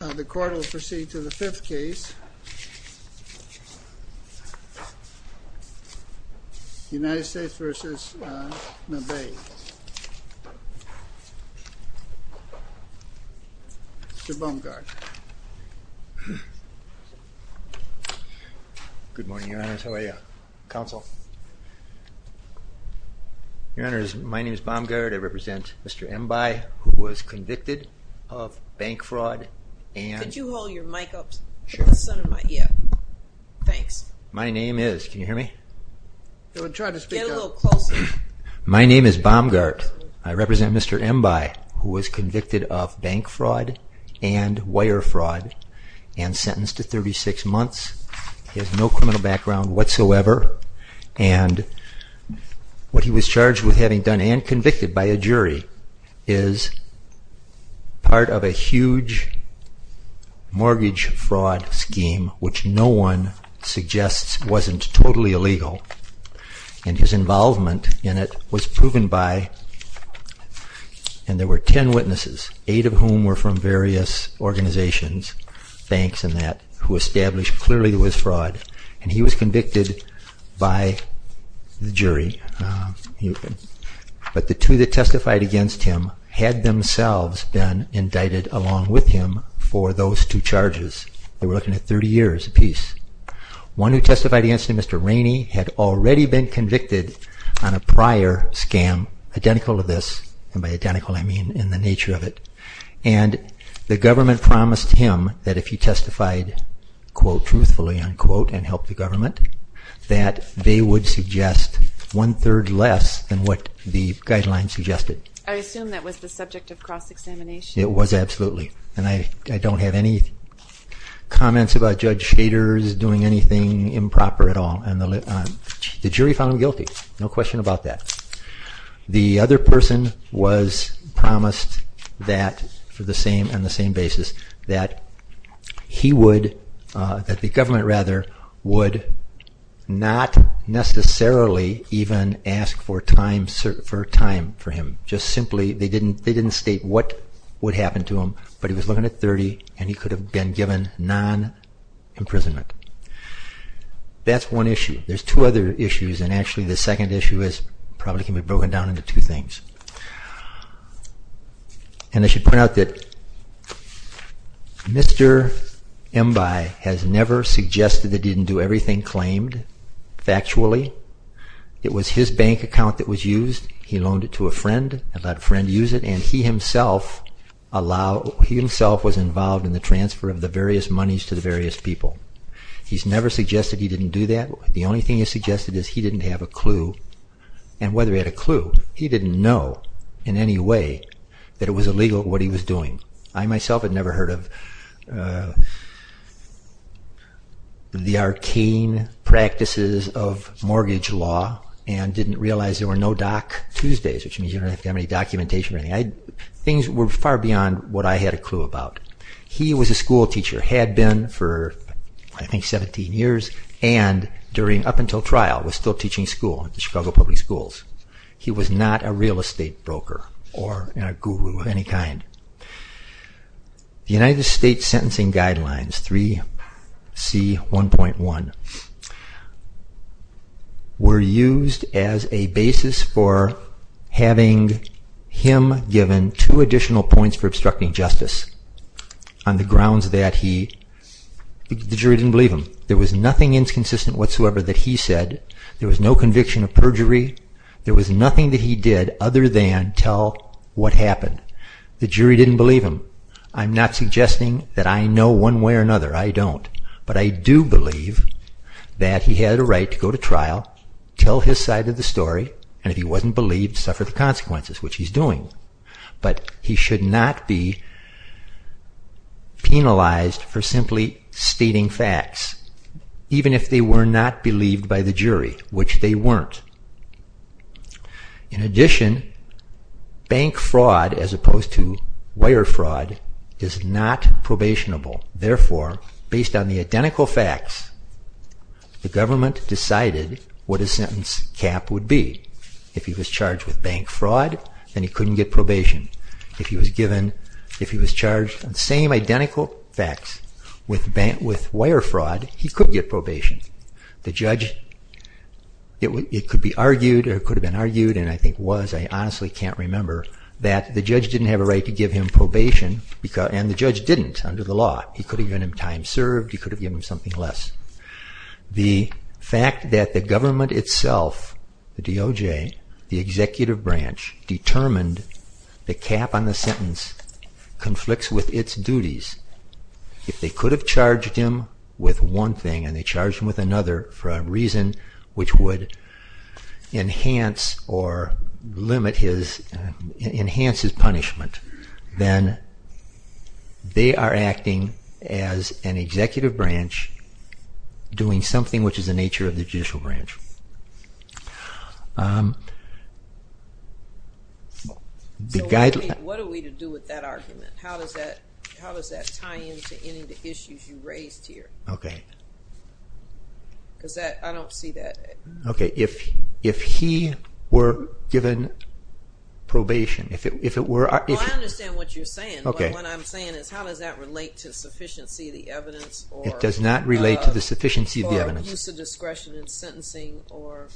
The court will proceed to the fifth case. United States v. Mbaye. Mr. Baumgard. Good morning, Your Honors. How are you? Counsel. Your Honors, my name is Baumgard. I represent Mr. Mbaye, who was convicted of bank fraud and... Could you hold your mic up? Sure. Thanks. My name is... Can you hear me? Try to speak up. Get a little closer. My name is Baumgard. I represent Mr. Mbaye, who was convicted of bank fraud and wire fraud and sentenced to 36 months. He has no criminal background whatsoever. And what he was charged with having done, and convicted by a jury, is part of a huge mortgage fraud scheme, which no one suggests wasn't totally illegal. And his involvement in it was proven by... And he was convicted by the jury. But the two that testified against him had themselves been indicted along with him for those two charges. They were looking at 30 years apiece. One who testified against him, Mr. Rainey, had already been convicted on a prior scam identical to this. And by identical, I mean in the nature of it. And the government promised him that if he testified, quote, truthfully, unquote, and helped the government, that they would suggest one-third less than what the guidelines suggested. I assume that was the subject of cross-examination. It was, absolutely. And I don't have any comments about Judge Schader's doing anything improper at all. And the jury found him guilty. No question about that. The other person was promised that, on the same basis, that the government would not necessarily even ask for time for him. Just simply, they didn't state what would happen to him. But he was looking at 30, and he could have been given non-imprisonment. That's one issue. There's two other issues, and actually the second issue probably can be broken down into two things. And I should point out that Mr. Embiye has never suggested that he didn't do everything claimed, factually. It was his bank account that was used. He loaned it to a friend and let a friend use it. And he himself was involved in the transfer of the various monies to the various people. He's never suggested he didn't do that. The only thing he's suggested is he didn't have a clue. And whether he had a clue, he didn't know in any way that it was illegal what he was doing. I myself had never heard of the arcane practices of mortgage law, and didn't realize there were no Doc Tuesdays, which means you don't have to have any documentation or anything. Things were far beyond what I had a clue about. He was a school teacher, had been for I think 17 years, and up until trial was still teaching school at the Chicago Public Schools. He was not a real estate broker or a guru of any kind. The United States Sentencing Guidelines 3C1.1 were used as a basis for having him given two additional points for obstructing justice. On the grounds that the jury didn't believe him. There was nothing inconsistent whatsoever that he said. There was no conviction of perjury. There was nothing that he did other than tell what happened. The jury didn't believe him. I'm not suggesting that I know one way or another. I don't. But I do believe that he had a right to go to trial, tell his side of the story, and if he wasn't believed, suffer the consequences, which he's doing. But he should not be penalized for simply stating facts. Even if they were not believed by the jury, which they weren't. In addition, bank fraud as opposed to wire fraud is not probationable. Therefore, based on the identical facts, the government decided what his sentence cap would be. If he was charged with bank fraud, then he couldn't get probation. If he was charged with the same identical facts, with wire fraud, he could get probation. It could have been argued, and I think was, I honestly can't remember, that the judge didn't have a right to give him probation, and the judge didn't under the law. He could have given him time served. He could have given him something less. The fact that the government itself, the DOJ, the executive branch, determined the cap on the sentence conflicts with its duties. If they could have charged him with one thing and they charged him with another for a reason which would enhance or limit his, enhance his punishment, then they are acting as an executive branch doing something which is the nature of the judicial branch. So what are we to do with that argument? How does that tie into any of the issues you raised here? Okay. Because I don't see that. Okay, if he were given probation, if it were... Well, I understand what you're saying. Okay. What I'm saying is how does that relate to sufficiency of the evidence or... It does not relate to the sufficiency of the evidence. Or use of discretion in sentencing or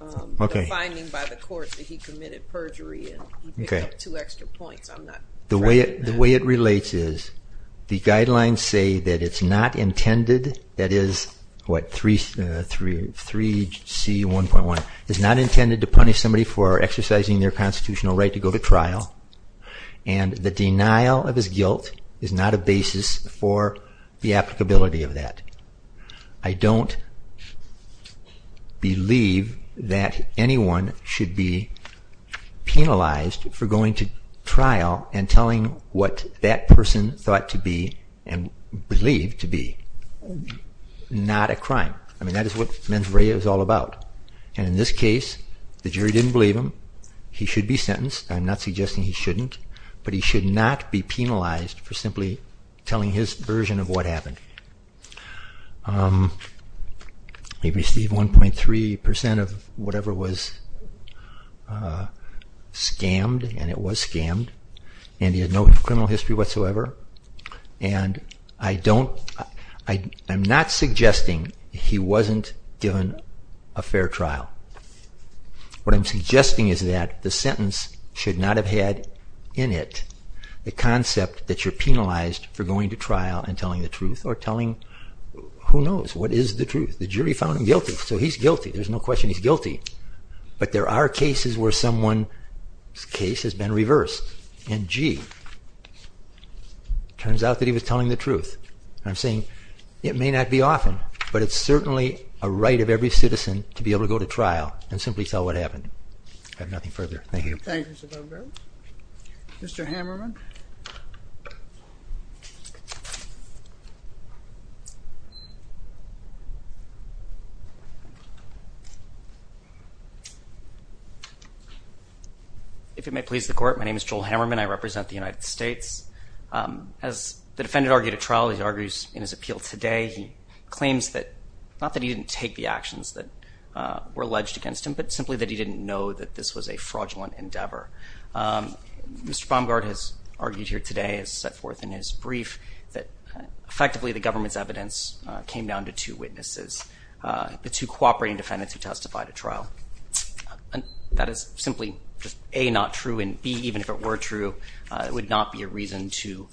the finding by the court that he committed perjury and you pick up two extra points. I'm not... The way it relates is the guidelines say that it's not intended, that is, what, 3C1.1 is not intended to punish somebody for exercising their constitutional right to go to trial and the denial of his guilt is not a basis for the applicability of that. I don't believe that anyone should be penalized for going to trial and telling what that person thought to be and believed to be. Not a crime. I mean, that is what mens rea is all about. And in this case, the jury didn't believe him. He should be sentenced. I'm not suggesting he shouldn't. But he should not be penalized for simply telling his version of what happened. He received 1.3% of whatever was scammed, and it was scammed. And he had no criminal history whatsoever. And I'm not suggesting he wasn't given a fair trial. What I'm suggesting is that the sentence should not have had in it the concept that you're penalized for going to trial and telling the truth or telling who knows what is the truth. The jury found him guilty, so he's guilty. There's no question he's guilty. But there are cases where someone's case has been reversed. And, gee, turns out that he was telling the truth. And I'm saying it may not be often, but it's certainly a right of every citizen to be able to go to trial and simply tell what happened. I have nothing further. Thank you. Thank you, Mr. Van Buren. Mr. Hammerman. If it may please the court, my name is Joel Hammerman. I represent the United States. As the defendant argued at trial, he argues in his appeal today, he claims that, not that he didn't take the actions that were alleged against him, but simply that he didn't know that this was a fraudulent endeavor. He's not going to go to trial. He argued here today, as set forth in his brief, that effectively the government's evidence came down to two witnesses, the two cooperating defendants who testified at trial. That is simply A, not true, and B, even if it were true, it would not be a reason to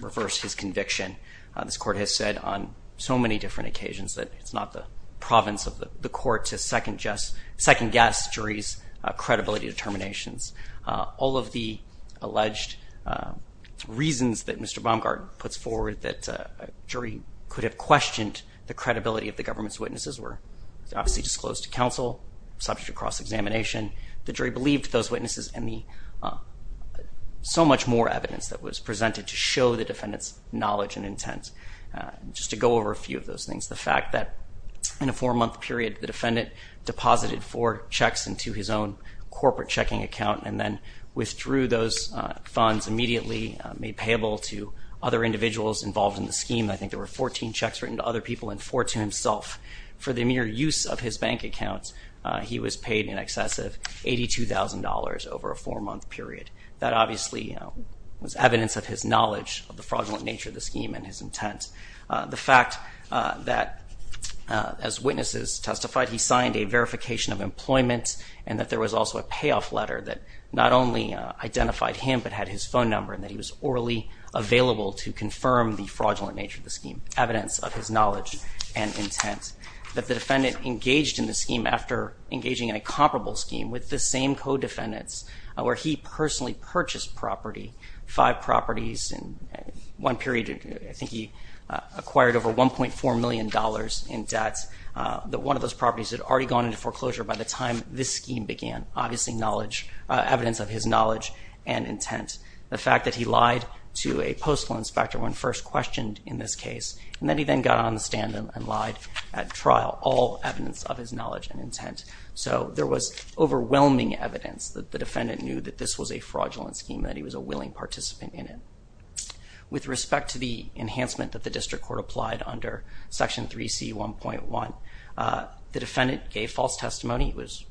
reverse his conviction. This court has said on so many different occasions that it's not the province of the court to second-guess juries' credibility determinations. All of the alleged reasons that Mr. Baumgart puts forward that a jury could have questioned the credibility of the government's witnesses were obviously disclosed to counsel, subject to cross-examination. The jury believed those witnesses and so much more evidence that was presented to show the defendant's knowledge and intent. Just to go over a few of those things, the fact that in a four-month period, the defendant deposited four checks into his own corporate checking account and then withdrew those funds immediately, made payable to other individuals involved in the scheme. I think there were 14 checks written to other people and four to himself. For the mere use of his bank account, he was paid in excess of $82,000 over a four-month period. That obviously was evidence of his knowledge of the fraudulent nature of the scheme and his intent. The fact that, as witnesses testified, he signed a verification of employment and that there was also a payoff letter that not only identified him but had his phone number and that he was orally available to confirm the fraudulent nature of the scheme, evidence of his knowledge and intent. That the defendant engaged in the scheme after engaging in a comparable scheme with the same co-defendants where he personally purchased property, five properties in one period. I think he acquired over $1.4 million in debts. One of those properties had already gone into foreclosure by the time this scheme began, obviously evidence of his knowledge and intent. The fact that he lied to a postal inspector when first questioned in this case and that he then got on the stand and lied at trial, all evidence of his knowledge and intent. So there was overwhelming evidence that the defendant knew that this was a fraudulent scheme and that he was a willing participant in it. With respect to the enhancement that the district court applied under Section 3C1.1, the defendant gave false testimony. He was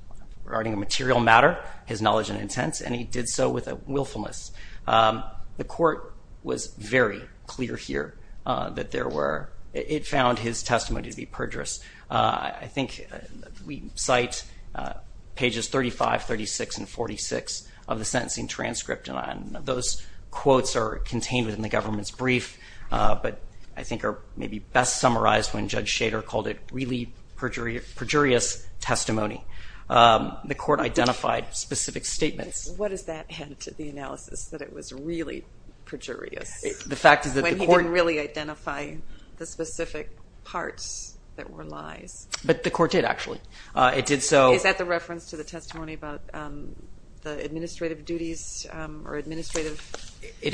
regarding a material matter, his knowledge and intent, and he did so with a willfulness. The court was very clear here that there were... It found his testimony to be perjurous. I think we cite pages 35, 36, and 46 of the sentencing transcript, and those quotes are contained within the government's brief, but I think are maybe best summarized when Judge Schader called it really perjurious testimony. The court identified specific statements. What does that have to do with the analysis, that it was really perjurious? The fact is that the court... When he didn't really identify the specific parts that were lies. But the court did, actually. It did so... It is.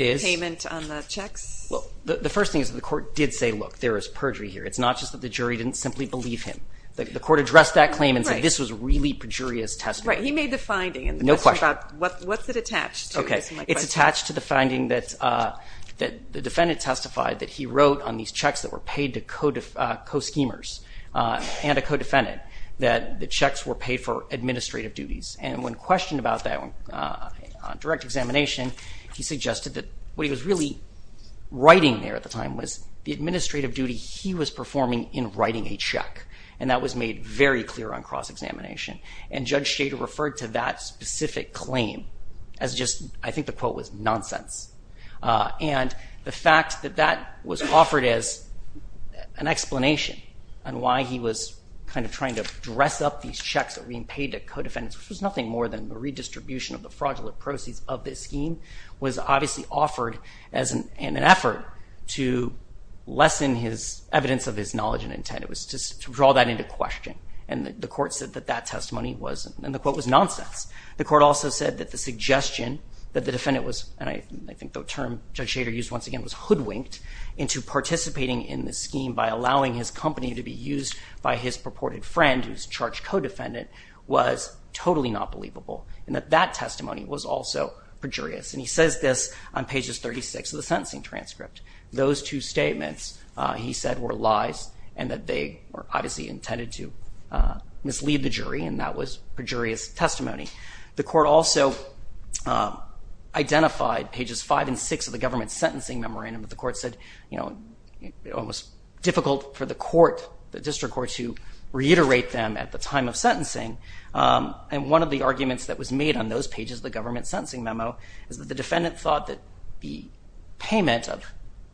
The first thing is that the court did say, look, there is perjury here. It's not just that the jury didn't simply believe him. The court addressed that claim and said, this was really perjurious testimony. No question. It's attached to the finding that the defendant testified that he wrote on these checks that were paid to co-schemers and a co-defendant, that the checks were paid for administrative duties. And when questioned about that on direct examination, he suggested that what he was really writing there at the time was the administrative duty he was performing in writing a check. And that was made very clear on cross-examination. And Judge Schader referred to that specific claim as just, I think the quote was, nonsense. And the fact that that was offered as an explanation on why he was kind of trying to dress up these checks that were being paid to co-defendants, which was nothing more than the redistribution of the fraudulent proceeds of this scheme, was obviously offered in an effort to lessen his evidence of his knowledge and intent. It was to draw that into question. And the court said that that testimony was, and the quote was, nonsense. The court also said that the suggestion that the defendant was, and I think the term Judge Schader used once again was hoodwinked, into participating in this scheme by allowing his company to be used by his purported friend who's charged co-defendant, was totally not believable. And that that testimony was also perjurious. And he says this on pages 36 of the sentencing transcript. Those two statements, he said, were lies and that they were obviously intended to mislead the jury and that was perjurious testimony. The court also identified pages 5 and 6 of the government's sentencing memorandum. The court said, you know, it was difficult for the court, the district courts, to reiterate them at the time of sentencing. And one of the arguments that was made on those pages of the government's sentencing memo is that the defendant thought that the payment of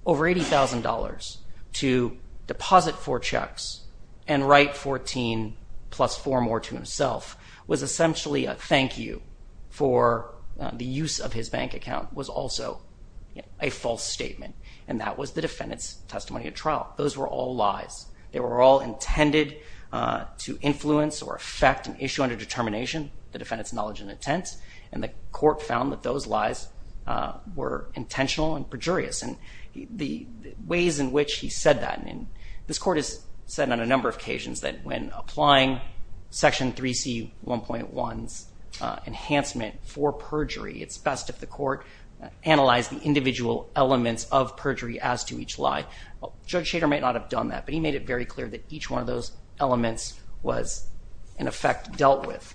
over $80,000 to deposit four checks and write 14 plus four more to himself was essentially a thank you for the use of his bank account was also a false statement. And that was the defendant's testimony at trial. Those were all lies. They were all intended to influence or affect an issue under determination. The defendant's knowledge and intent. And the court found that those lies were intentional and perjurious. And the ways in which he said that, and this court has said on a number of occasions that when applying Section 3C1.1's enhancement for perjury, it's best if the court analyzed the individual elements of perjury as to each lie. Judge Shader might not have done that, but he made it very clear that each one of those elements was in effect dealt with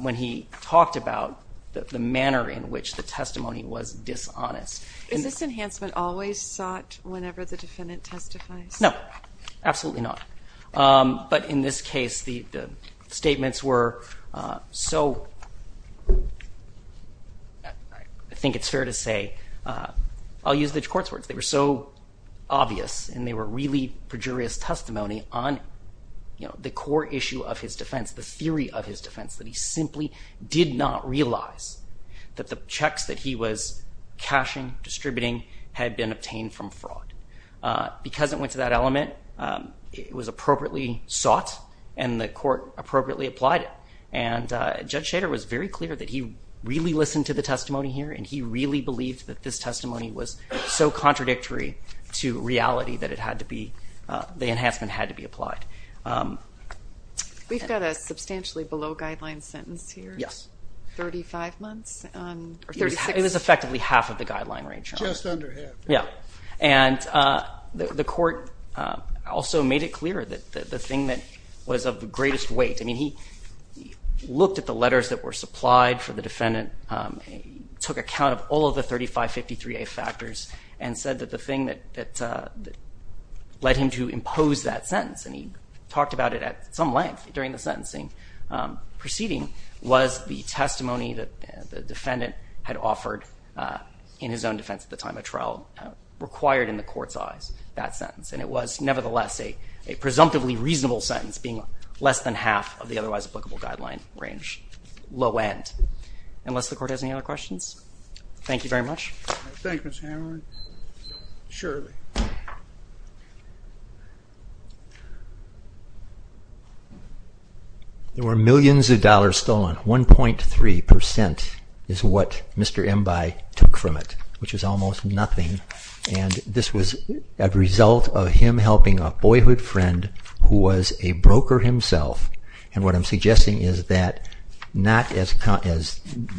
when he talked about the manner in which the testimony was dishonest. Is this enhancement always sought whenever the defendant testifies? No. Absolutely not. But in this case, the statements were so, I think it's fair to say, I'll use the court's words. They were so obvious, and they were really perjurious testimony on the core issue of his defense, the theory of his defense, that he simply did not realize that the checks that he was cashing, distributing, had been obtained from fraud. Because it went to that element, it was appropriately sought, and the court appropriately applied it. And Judge Shader was very clear that he really listened to the testimony here, and he really believed that this testimony was so contradictory to reality that it had to be, the enhancement had to be applied. We've got a substantially below guideline sentence here. Yes. 35 months? Or 36? It was effectively half of the guideline range. Just under half. Yeah. And the court also made it clear that the thing that was of the greatest weight, I mean, he looked at the letters that were supplied for the defendant, took account of all of the 3553A factors, and said that the thing that led him to impose that sentence, and he talked about it at some length during the sentencing proceeding, was the testimony that the defendant had offered in his own defense at the time of trial, required in the court's eyes, that sentence. And it was nevertheless a presumptively reasonable sentence, being less than half of the otherwise applicable guideline range, low end. Unless the court has any other questions? Thank you very much. Thank you, Mr. Hammer. Shirley. There were millions of dollars stolen. 1.3% is what Mr. Embiigh took from it, which is almost nothing. And this was a result of him helping a boyhood friend who was a broker himself. And what I'm suggesting is that not as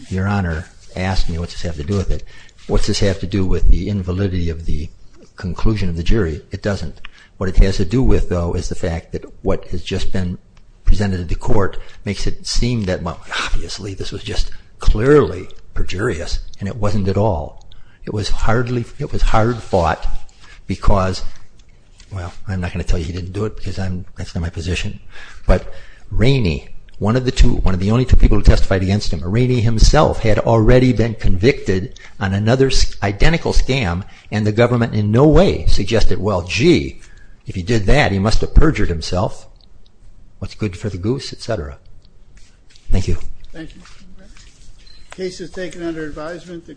your Honor asked me, what's this have to do with it? What's this have to do with the invalidity of the conclusion of the jury? It doesn't. What it has to do with, though, is the fact that what has just been presented to court makes it seem that, well, obviously, this was just clearly perjurious. And it wasn't at all. It was hard fought because, well, I'm not going to tell you he didn't do it because that's not my position. But Rainey, one of the only two people who testified against him, Rainey himself had already been convicted on another identical scam. And the government in no way suggested, well, gee, if he did that, he must have perjured himself. What's good for the goose, et cetera? Thank you. Thank you. Case is taken under advisement.